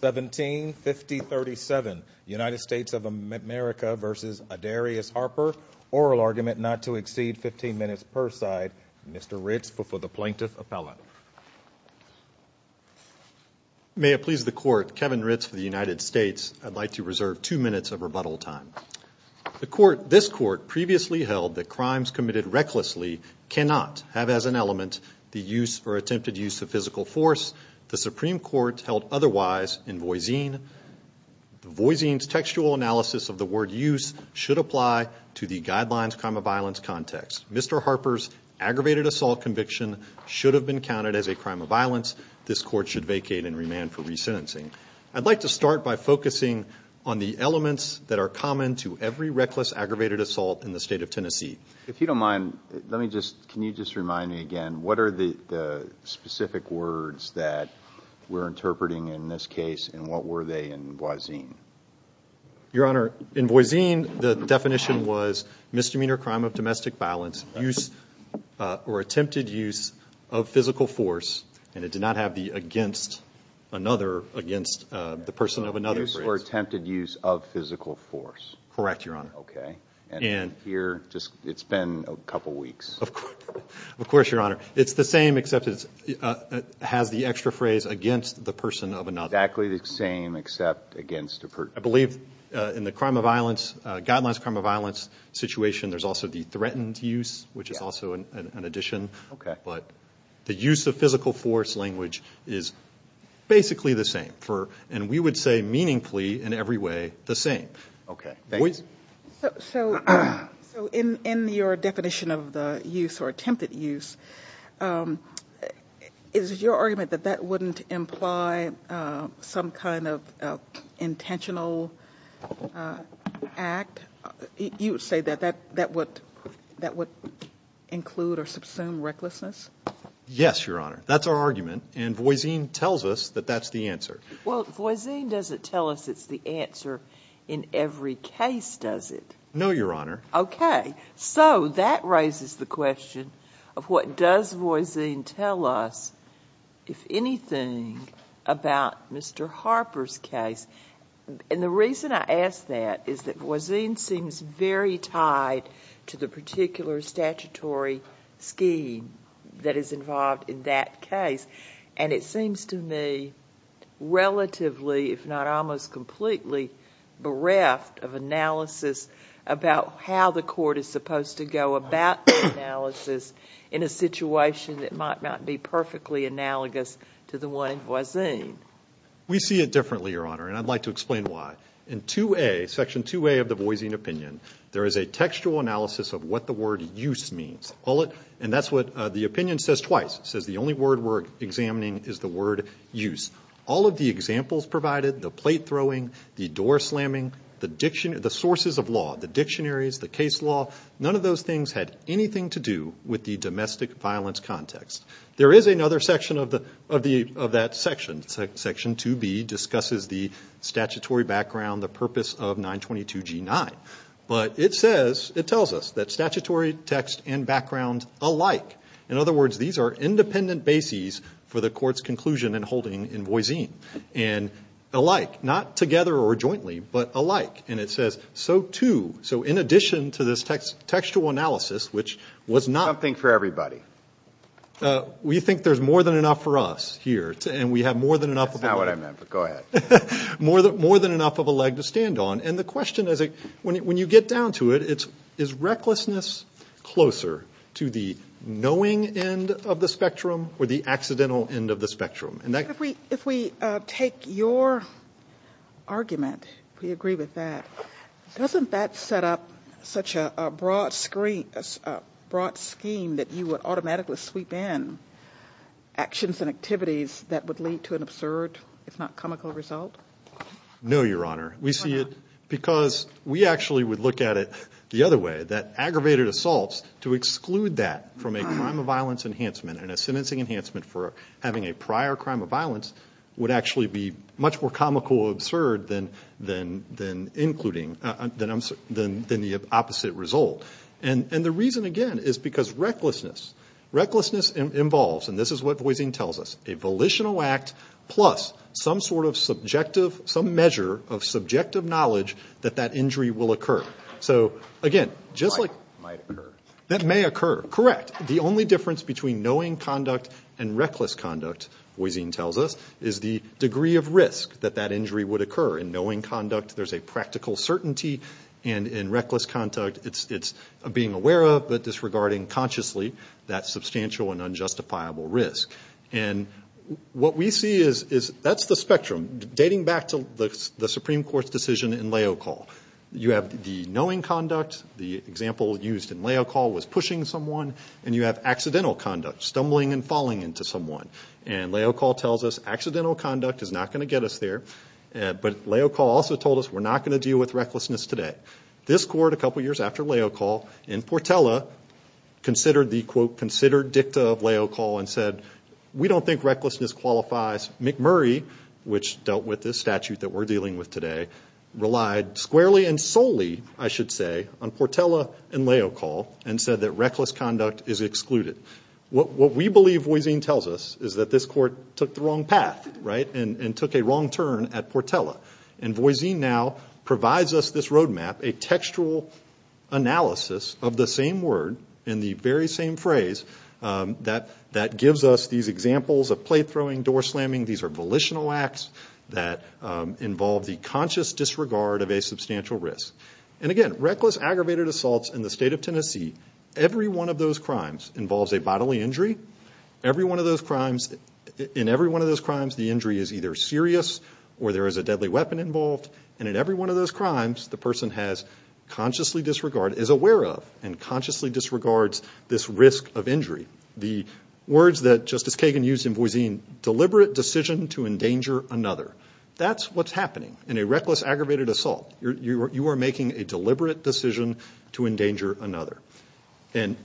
1750 37 United States of America v. Adarius Harper oral argument not to exceed 15 minutes per side Mr. Ritz before the plaintiff appellant may I please the court Kevin Ritz for the United States I'd like to reserve two minutes of rebuttal time the court this court previously held that crimes committed recklessly cannot have as an element the use for attempted use of physical force the Supreme Court held otherwise invoicing voicings textual analysis of the word use should apply to the guidelines from a violence context Mr. Harper's aggravated assault conviction should have been counted as a crime of violence this court should vacate and remand for resentencing I'd like to start by focusing on the elements that are common to every reckless aggravated assault in the state of Tennessee if you don't mind let me just can you just remind me again what are the specific words that we're interpreting in this case and what were they in voicing your honor in voicing the definition was misdemeanor crime of domestic violence use or attempted use of physical force and it did not have the against another against the person of another use or attempted use of physical force correct your honor okay and here just it's been a couple weeks of course your honor it's the same except it has the extra phrase against the person of another actually the same except against a person I believe in the crime of violence guidelines crime of violence situation there's also the threatened use which is also an addition okay but the use of physical force language is basically the same for and we would say meaningfully in every way the same okay so in in your definition of the use or attempted use is your argument that that wouldn't imply some kind of intentional act you say that that that would that would include or subsume recklessness yes your honor that's our argument and voicing tells us that that's the answer well voicing doesn't tell us it's the answer in every case does it know your honor okay so that raises the question of what does voicing tell us if anything about mr. Harper's case and the reason I asked that is that voicing seems very tied to the particular statutory scheme that is to me relatively if not almost completely bereft of analysis about how the court is supposed to go about analysis in a situation that might not be perfectly analogous to the one in voicing we see it differently your honor and I'd like to explain why in 2a section 2a of the voicing opinion there is a textual analysis of what the word use means all it and that's what the opinion says twice says the only word we're examining is the word use all of the examples provided the plate throwing the door slamming the diction of the sources of law the dictionaries the case law none of those things had anything to do with the domestic violence context there is another section of the of the of that section section 2b discusses the statutory background the purpose of 922 g9 but it says it tells us that statutory text and background alike in other words these are independent bases for the court's conclusion and holding in voicing and alike not together or jointly but alike and it says so too so in addition to this text textual analysis which was not think for everybody we think there's more than enough for us here and we have more than enough about what I meant but go ahead more that more than enough of a leg to question as a when you get down to it it's is recklessness closer to the knowing end of the spectrum or the accidental end of the spectrum and that if we if we take your argument we agree with that doesn't that set up such a broad screen as a broad scheme that you would automatically sweep in actions and activities that would lead to an absurd it's not comical result no your honor we see it because we actually would look at it the other way that aggravated assaults to exclude that from a crime of violence enhancement and a sentencing enhancement for having a prior crime of violence would actually be much more comical absurd than then then including that I'm certain than the opposite result and and the reason again is because recklessness recklessness involves and this is what voicing tells us a volitional act plus some sort of knowledge that that injury will occur so again just like that may occur correct the only difference between knowing conduct and reckless conduct voicing tells us is the degree of risk that that injury would occur in knowing conduct there's a practical certainty and in reckless conduct it's it's being aware of but disregarding consciously that substantial and unjustifiable risk and what we see is is that's the spectrum dating back to the Supreme Court's decision in leo call you have the knowing conduct the example used in leo call was pushing someone and you have accidental conduct stumbling and falling into someone and leo call tells us accidental conduct is not going to get us there but leo call also told us we're not going to deal with recklessness today this court a couple years after leo call in Portela considered the quote considered dicta of leo call and said we don't think recklessness qualifies McMurray which dealt with this statute that we're dealing with today relied squarely and solely I should say on Portela and leo call and said that reckless conduct is excluded what we believe voicing tells us is that this court took the wrong path right and and took a wrong turn at Portela and voicing now provides us this road map a textual analysis of the same word in the very same phrase that that gives us these examples of play throwing door slamming these are volitional acts that involve the conscious disregard of a substantial risk and again reckless aggravated assaults in the state of Tennessee every one of those crimes involves a bodily injury every one of those crimes in every one of those crimes the injury is either serious or there is a deadly weapon involved and in every one of those crimes the person has consciously disregard is aware of and consciously disregards this risk of deliberate decision to endanger another that's what's happening in a reckless aggravated assault you are making a deliberate decision to endanger another and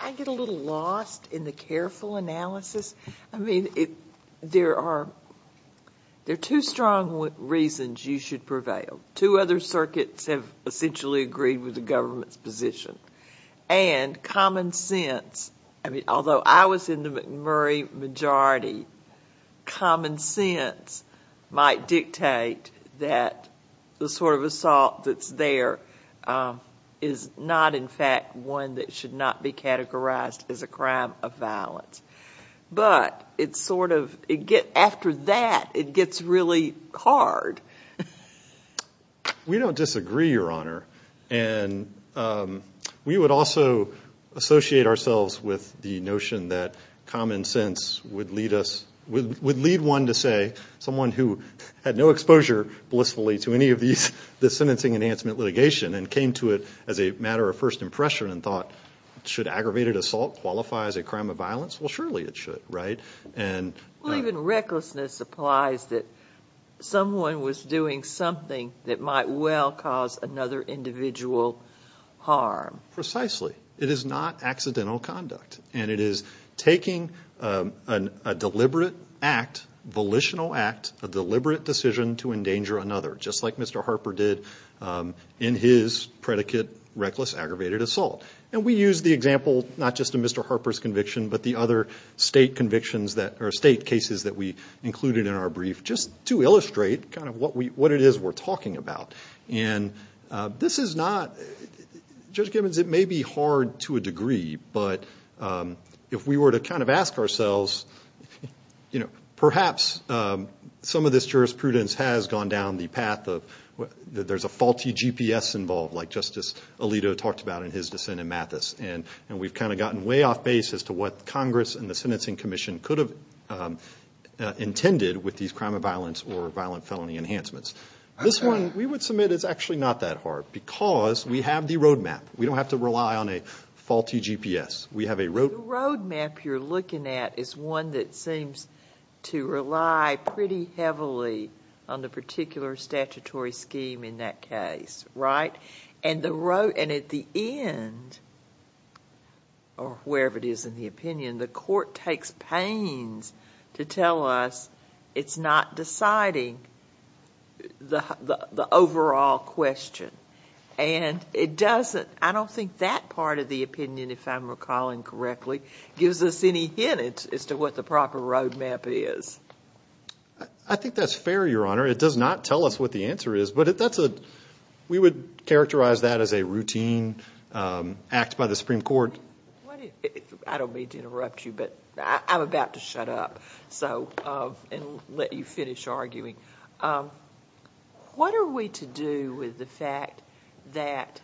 I get a little lost in the careful analysis I mean it there are there too strong what reasons you should prevail two other circuits have essentially agreed with the government's position and common sense I mean although I was in the majority common sense might dictate that the sort of assault that's there is not in fact one that should not be categorized as a crime of violence but it's sort of it get after that it gets really hard we don't disagree your common sense would lead us with would lead one to say someone who had no exposure blissfully to any of these the sentencing enhancement litigation and came to it as a matter of first impression and thought should aggravated assault qualifies a crime of violence will surely it should right and even recklessness applies that someone was doing something that might well cause another individual harm precisely it is not accidental conduct and it is taking a deliberate act volitional act of deliberate decision to endanger another just like Mr. Harper did in his predicate reckless aggravated assault and we use the example not just a Mr. Harper's conviction but the other state convictions that are state cases that we included in our brief just to illustrate kind of what we what it is we're talking about and this is not just givens it may be hard to a degree but if we were to kind of ask ourselves perhaps some of this jurisprudence has gone down the path of what there's a faulty GPS involved like Justice Alito talked about in his dissent in Mathis and we've kind of gotten way off base as to what Congress and the Sentencing Commission could have intended with these crime of violence or violent felony enhancements this one we would submit it's actually not that hard because we have the ability to rely on a faulty GPS we have a road map you're looking at is one that seems to rely pretty heavily on the particular statutory scheme in that case right and the road and at the end or wherever it is in the opinion the court takes pains to tell us it's not deciding the overall question and it doesn't I part of the opinion if I'm recalling correctly gives us any hint as to what the proper road map is I think that's fair your honor it does not tell us what the answer is but if that's a we would characterize that as a routine act by the Supreme Court I don't mean to interrupt you but I'm about to shut up so let you finish arguing what are we to do with the fact that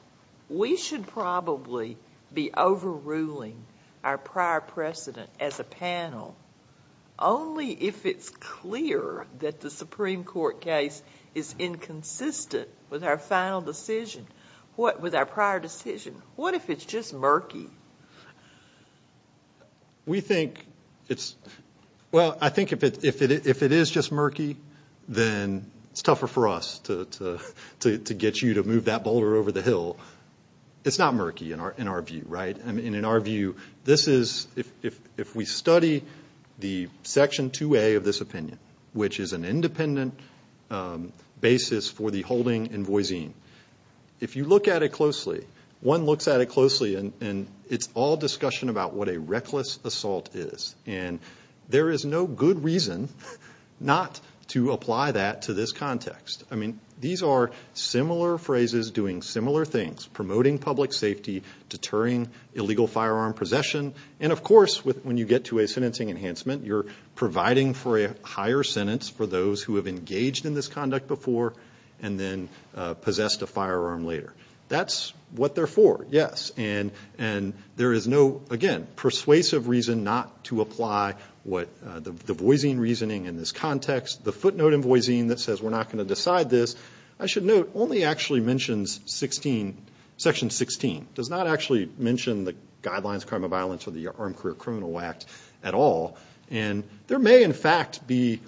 we should probably be overruling our prior precedent as a panel only if it's clear that the Supreme Court case is inconsistent with our final decision what with our prior decision what if it's just murky we think it's well I think if it if it if it is just murky then it's tougher for us to to get you to move that boulder over the hill it's not murky in our in our view right and in our view this is if we study the section 2a of this opinion which is an independent basis for the holding invoicing if you look at it closely one looks at it closely and it's all discussion about what a reckless assault is and there is no good reason not to apply that to this context I mean these are similar phrases doing similar things promoting public safety deterring illegal firearm possession and of course with when you get to a sentencing enhancement you're providing for a higher sentence for those who have engaged in this conduct before and then possessed a firearm later that's what they're for yes and and there is no again persuasive reason not to apply what the voicing reasoning in this context the footnote invoicing that says we're not going to decide this I should note only actually mentions 16 section 16 does not actually mention the guidelines crime of violence or the armed career criminal act at all and there may in fact be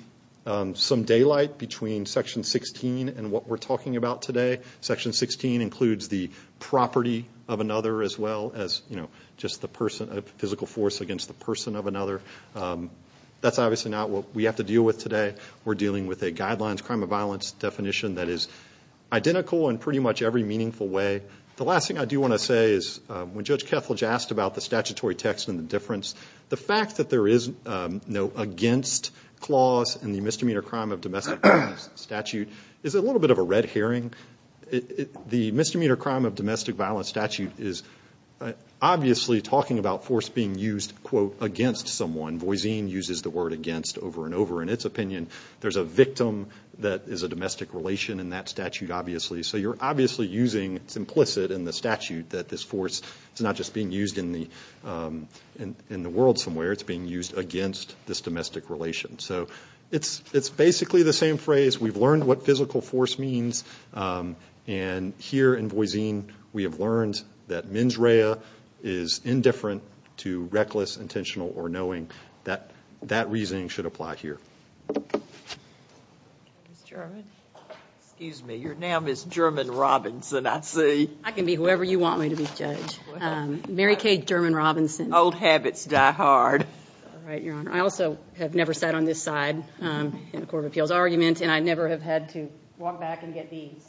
some daylight between section 16 and what we're talking about today section 16 includes the property of another as well as you know just the person of physical force against the person of another that's obviously not what we have to deal with today we're dealing with a guidelines crime of violence definition that is identical and pretty much every meaningful way the last thing I do want to say is when judge Kethledge asked about the statutory text and the difference the fact that there is no against clause and the misdemeanor crime of domestic statute is a little bit of a red herring the misdemeanor crime of domestic violence statute is obviously talking about force being used quote against someone voicing uses the word against over and over in its opinion there's a victim that is a domestic relation in that statute obviously so you're obviously using it's implicit in the statute that this force is not just being used in the in the world somewhere it's being used against this domestic relation so it's it's basically the same phrase we've learned what physical force means and here in voicing we have learned that mens rea is indifferent to reckless intentional or knowing that that reasoning should apply here excuse me you're now miss German Robinson I see I can be whoever you want me to be judge Mary Kay German Robinson old habits die hard I also have never sat on this side in the Court of Appeals argument and I never have had to walk back and get these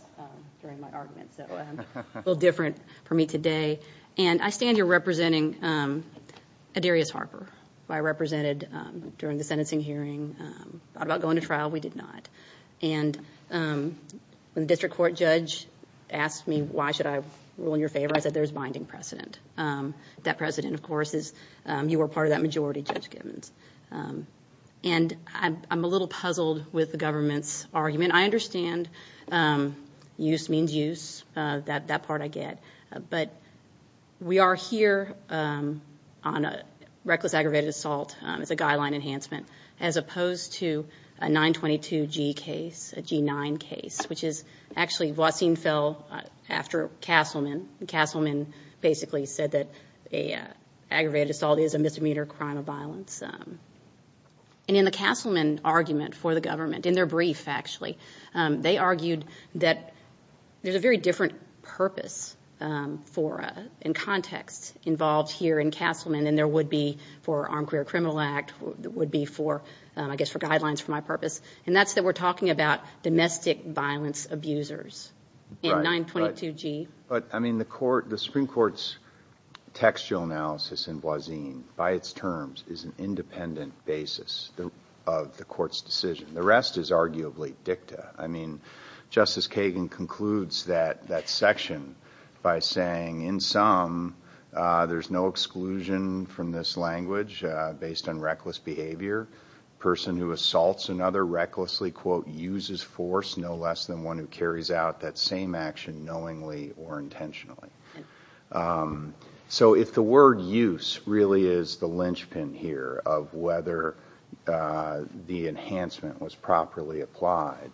little different for me today and I stand you're representing a Darius Harper I represented during the sentencing hearing about going to trial we did not and when the district court judge asked me why should I rule in your favor I said there's binding precedent that precedent of course is you were part of that majority just givens and I'm a little puzzled with the government's argument I understand use means use that part I get but we are here on a reckless aggravated assault it's a guideline enhancement as opposed to a 922 G case a g9 case which is actually watching fell after Castleman Castleman basically said that a aggravated assault is a misdemeanor crime of violence and in the Castleman argument for the government in their brief actually they argued that there's a very different purpose for in context involved here in Castleman and there would be for armed career criminal act would be for I guess for guidelines for my purpose and that's that we're talking about domestic violence abusers in 922 G but I mean the court the Supreme Court's textual analysis in Blaseen by its terms is an independent basis of the court's decision the rest is arguably dicta I section by saying in some there's no exclusion from this language based on reckless behavior person who assaults another recklessly quote uses force no less than one who carries out that same action knowingly or intentionally so if the word use really is the linchpin here of whether the enhancement was properly applied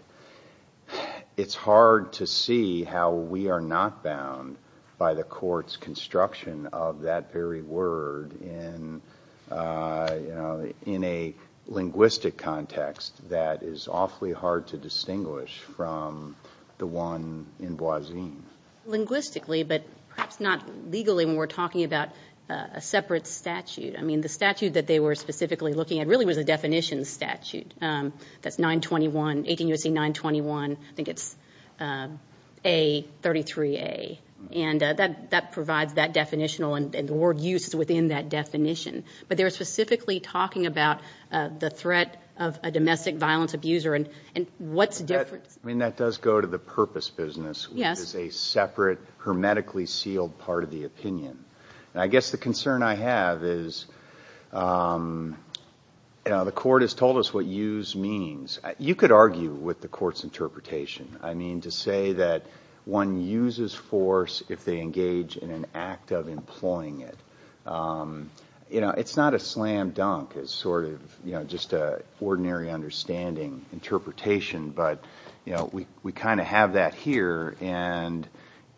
it's hard to see how we are not bound by the court's construction of that very word in in a linguistic context that is awfully hard to distinguish from the one in Blaseen linguistically but perhaps not legally when we're talking about a separate statute I mean the statute that they were specifically looking at really was a definition statute that's 921 18 you see 921 I think it's a 33 a and that that provides that definitional and the word used within that definition but they were specifically talking about the threat of a domestic violence abuser and and what's different I mean that does go to the purpose business yes it's a separate hermetically sealed part of the the court has told us what use means you could argue with the court's interpretation I mean to say that one uses force if they engage in an act of employing it you know it's not a slam-dunk it's sort of you know just a ordinary understanding interpretation but you know we we kind of have that here and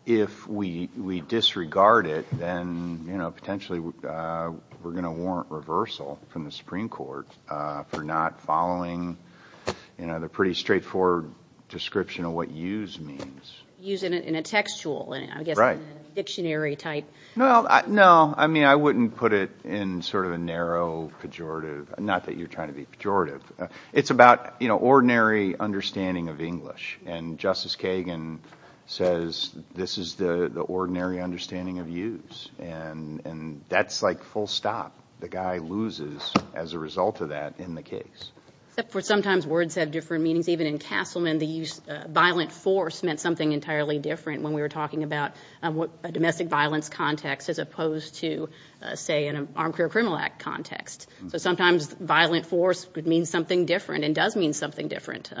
if we we disregard it then you know potentially we're gonna warrant reversal from the Supreme Court for not following you know they're pretty straightforward description of what use means using it in a textual and I guess right dictionary type no no I mean I wouldn't put it in sort of a narrow pejorative not that you're trying to be pejorative it's about you know ordinary understanding of English and Justice Kagan says this is the the ordinary understanding of use and and that's like full stop the guy loses as a result of that in the case except for sometimes words have different meanings even in Castleman the use violent force meant something entirely different when we were talking about what a domestic violence context as opposed to say in an armed career criminal act context so sometimes violent force would mean something different and does mean something different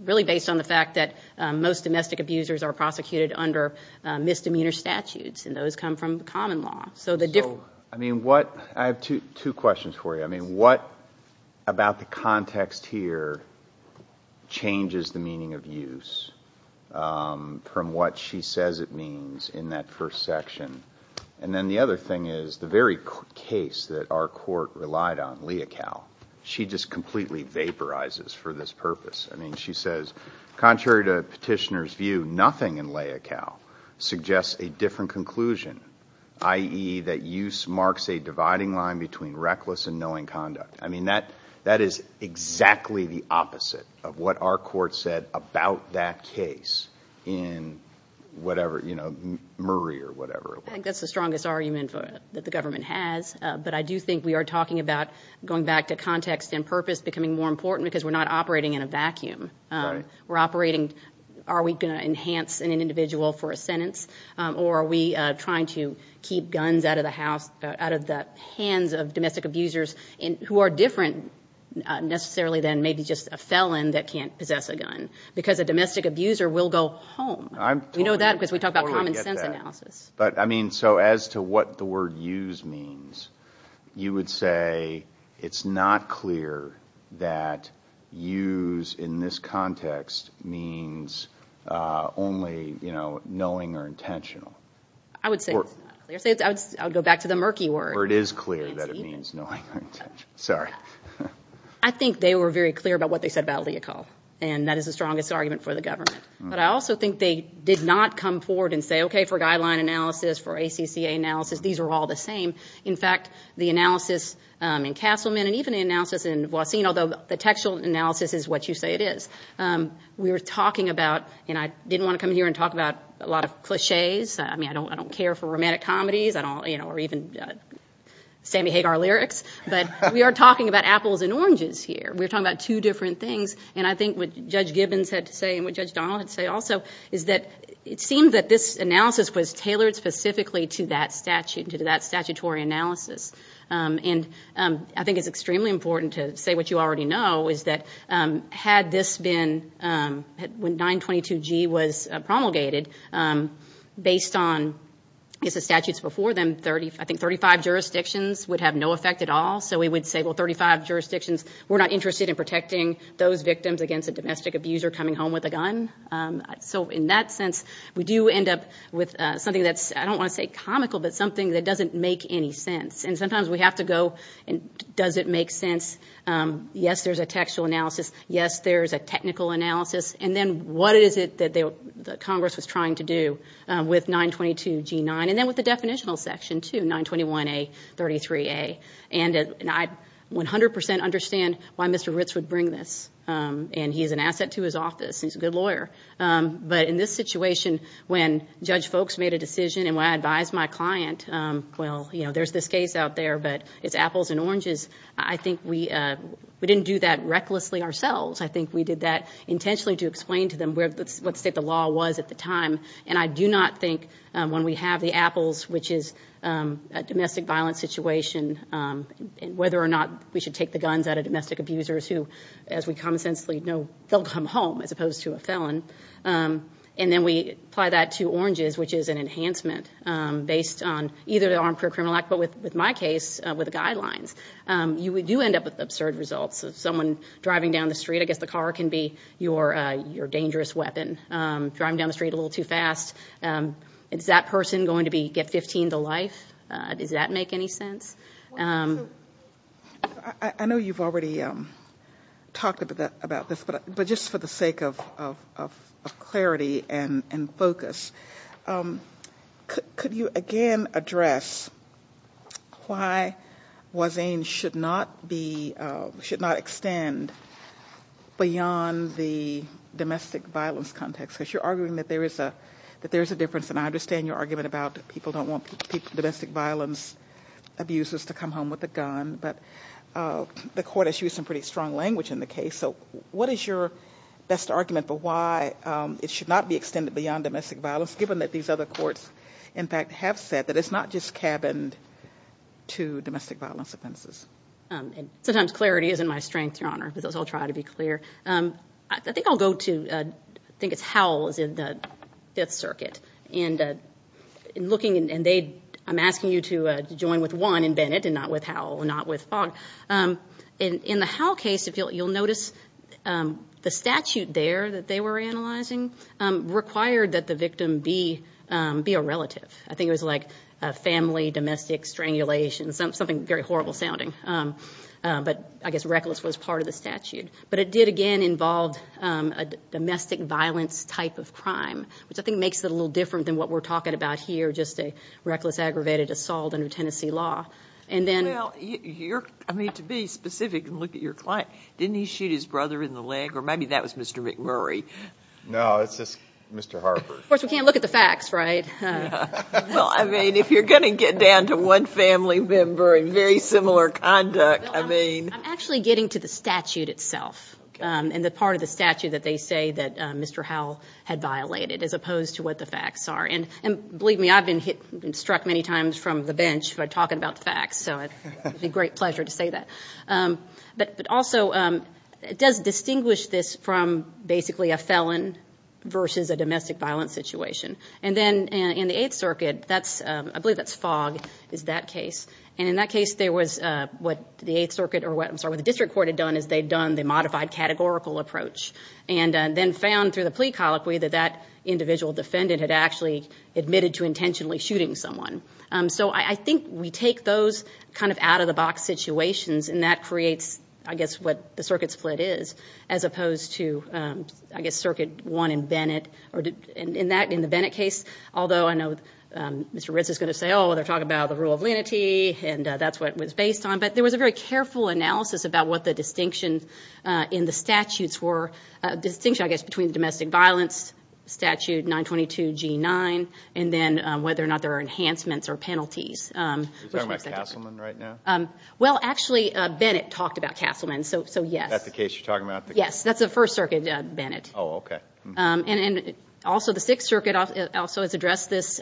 really based on the fact that most domestic abusers are prosecuted under misdemeanor statutes and those come from common law so the different I mean what I have to two questions for you I mean what about the context here changes the meaning of use from what she says it means in that first section and then the other thing is the very case that our court relied on Leocal she just completely vaporizes for this purpose I mean she says contrary to petitioners view nothing in Leocal suggests a different conclusion ie that use marks a dividing line between reckless and knowing conduct I mean that that is exactly the opposite of what our court said about that case in whatever you know Murray or whatever that's the strongest argument that the government has but I do think we are talking about going back to context and purpose becoming more important because we're not operating in a vacuum we're operating are we going to enhance in an individual for a sentence or are we trying to keep guns out of the house out of the hands of domestic abusers in who are different necessarily than maybe just a felon that can't possess a gun because a domestic abuser will go home I mean so as to what the word use means you would say it's not clear that use in this context means only you know knowing or intentional I would say I would go back to the murky word it is clear that it means no sorry I think they were very clear about what they said about Leocal and that is the strongest argument for the government but I also think they did not come forward and say okay for guideline analysis for ACCA analysis these are all the same in fact the analysis in Castleman and even the analysis in Voisin although the textual analysis is what you say it is we were talking about and I didn't want to come here and talk about a lot of cliches I mean I don't I don't care for romantic comedies I don't you know or even Sammy Hagar lyrics but we are talking about apples and oranges here we're talking about two different things and I think what judge Gibbons had to say and what judge Donald and say also is that it seemed that this analysis was tailored specifically to that statute to do that statutory analysis and I think it's extremely important to say what you already know is that had this been when 922 G was promulgated based on it's a statutes before them 30 I think 35 jurisdictions would have no effect at all so we would say well 35 jurisdictions we're not interested in domestic abuser coming home with a gun so in that sense we do end up with something that's I don't want to say comical but something that doesn't make any sense and sometimes we have to go and does it make sense yes there's a textual analysis yes there's a technical analysis and then what is it that the Congress was trying to do with 922 g9 and then with the definitional section to 921 a 33 a and and I 100% understand why mr. Ritz would bring this and he's an asset to his office he's a good lawyer but in this situation when judge folks made a decision and when I advised my client well you know there's this case out there but it's apples and oranges I think we we didn't do that recklessly ourselves I think we did that intentionally to explain to them where let's say the law was at the time and I do not think when we have the apples which is a domestic violence situation and whether or not we should take the home as opposed to a felon and then we apply that to oranges which is an enhancement based on either the Armed Career Criminal Act but with with my case with the guidelines you would do end up with absurd results of someone driving down the street I guess the car can be your your dangerous weapon driving down the street a little too fast it's that person going to be get 15 to life does that make any sense I know you've already talked about that but but just for the sake of clarity and and focus could you again address why was ain't should not be should not extend beyond the domestic violence context because you're arguing that there is a that there's a difference and I understand your argument about people don't want people domestic violence abuses to come home with a gun but the court has used some pretty strong language in the case so what is your best argument for why it should not be extended beyond domestic violence given that these other courts in fact have said that it's not just cabined to domestic violence offenses and sometimes clarity is in my strength your honor because I'll try to be clear I think I'll go to think it's Howell's in the Fifth Circuit and in looking and they I'm asking you to join with one in Bennett and not with Howell not with you'll notice the statute there that they were analyzing required that the victim be be a relative I think it was like a family domestic strangulation something very horrible sounding but I guess reckless was part of the statute but it did again involved a domestic violence type of crime which I think makes it a little different than what we're talking about here just a reckless aggravated assault under Tennessee law and then you're I mean to be specific look at your client didn't he shoot his brother in the leg or maybe that was mr. McMurray no it's just mr. Harper of course we can't look at the facts right well I mean if you're gonna get down to one family member and very similar conduct I mean I'm actually getting to the statute itself and the part of the statute that they say that mr. Howell had violated as opposed to what the facts are and and believe me I've been hit and struck many times from the bench by but also it does distinguish this from basically a felon versus a domestic violence situation and then in the Eighth Circuit that's I believe that's fog is that case and in that case there was what the Eighth Circuit or what I'm sorry the district court had done is they've done they modified categorical approach and then found through the plea colloquy that that individual defendant had actually admitted to intentionally shooting someone so I think we take those kind of out-of-the-box situations and that creates I guess what the circuit split is as opposed to I guess circuit one in Bennett or did in that in the Bennett case although I know mr. Ritz is going to say oh they're talking about the rule of lenity and that's what was based on but there was a very careful analysis about what the distinction in the statutes were distinction I guess between domestic violence statute 922 g9 and then whether or not there are enhancements or penalties well actually Bennett talked about Castleman so so yes that's the case you're talking about yes that's the First Circuit Bennett oh okay and and also the Sixth Circuit also has addressed this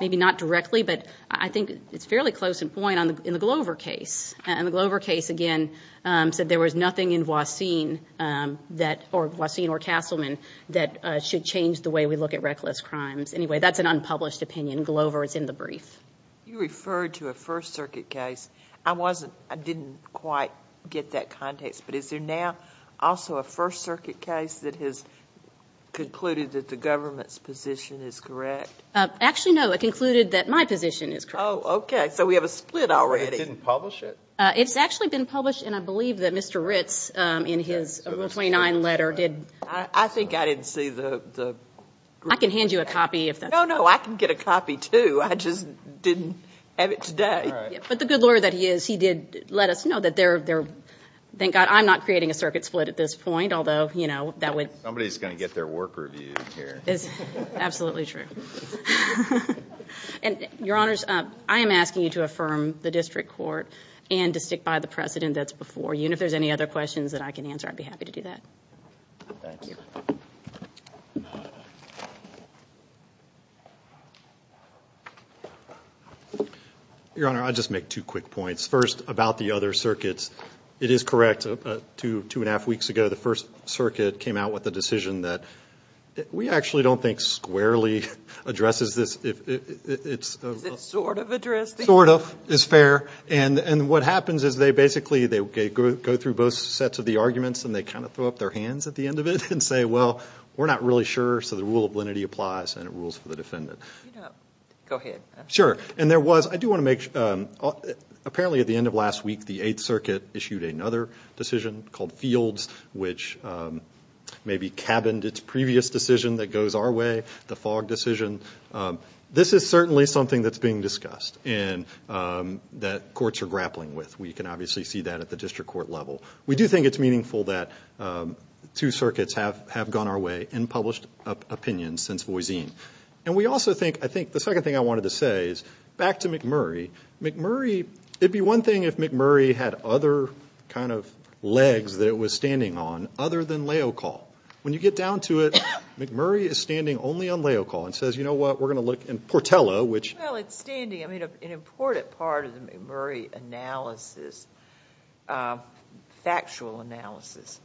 maybe not directly but I think it's fairly close in point on the in the Glover case and the Glover case again said there was nothing in Voisin that or Voisin or Castleman that should change the way we look at reckless crimes anyway that's an unpublished opinion Glover is in the brief you referred to a First Circuit case I wasn't I didn't quite get that context but is there now also a First Circuit case that has concluded that the government's position is correct actually no it concluded that my position is oh okay so we have a split already didn't publish it it's actually been published and I believe that mr. Ritz in his 29 letter did I think I didn't see I can hand you a copy if that no no I can get a copy too I just didn't have it today but the good Lord that he is he did let us know that they're there thank God I'm not creating a circuit split at this point although you know that would somebody's gonna get their work reviewed here is absolutely true and your honors I am asking you to affirm the district court and to stick by the precedent that's before you and if there's any other questions that I can answer I'd be happy to do that your honor I just make two quick points first about the other circuits it is correct to two and a half weeks ago the First Circuit came out with a decision that we actually don't think squarely addresses this if it's sort of is fair and and what happens is they basically they go through both sets of the arguments and they kind of throw up their hands at the end of it and say well we're not really sure so the rule of lenity applies and it rules for the defendant sure and there was I do want to make apparently at the end of last week the 8th Circuit issued another decision called fields which maybe cabined its previous decision that goes our way the fog decision this is with we can obviously see that at the district court level we do think it's meaningful that two circuits have have gone our way and published opinions since voisine and we also think I think the second thing I wanted to say is back to McMurray McMurray it'd be one thing if McMurray had other kind of legs that it was standing on other than leo call when you get down to it McMurray is standing only on leo call and says you know what we're gonna look in Portela which well it's standing I mean an important part of the McMurray analysis factual analysis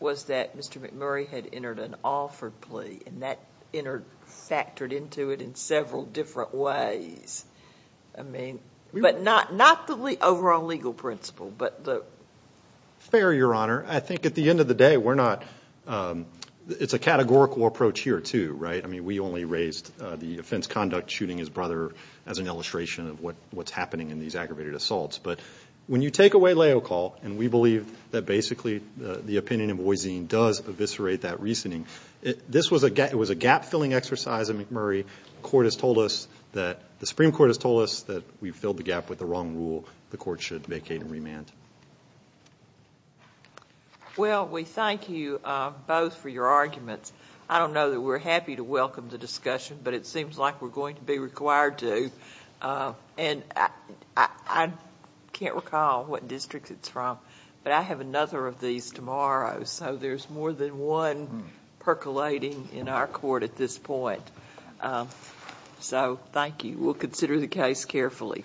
was that mr. McMurray had entered an offer plea and that entered factored into it in several different ways I mean but not not the overall legal principle but the fair your honor I think at the end of the day we're not it's a categorical approach here too right I mean we only raised the brother as an illustration of what what's happening in these aggravated assaults but when you take away leo call and we believe that basically the opinion of voisine does eviscerate that reasoning it this was a gap it was a gap filling exercise of McMurray court has told us that the Supreme Court has told us that we've filled the gap with the wrong rule the court should vacate and remand well we thank you both for your arguments I don't know that we're happy to welcome the discussion but it seems like we're going to be required to and I can't recall what district it's from but I have another of these tomorrow so there's more than one percolating in our court at this point so thank you we'll consider the case carefully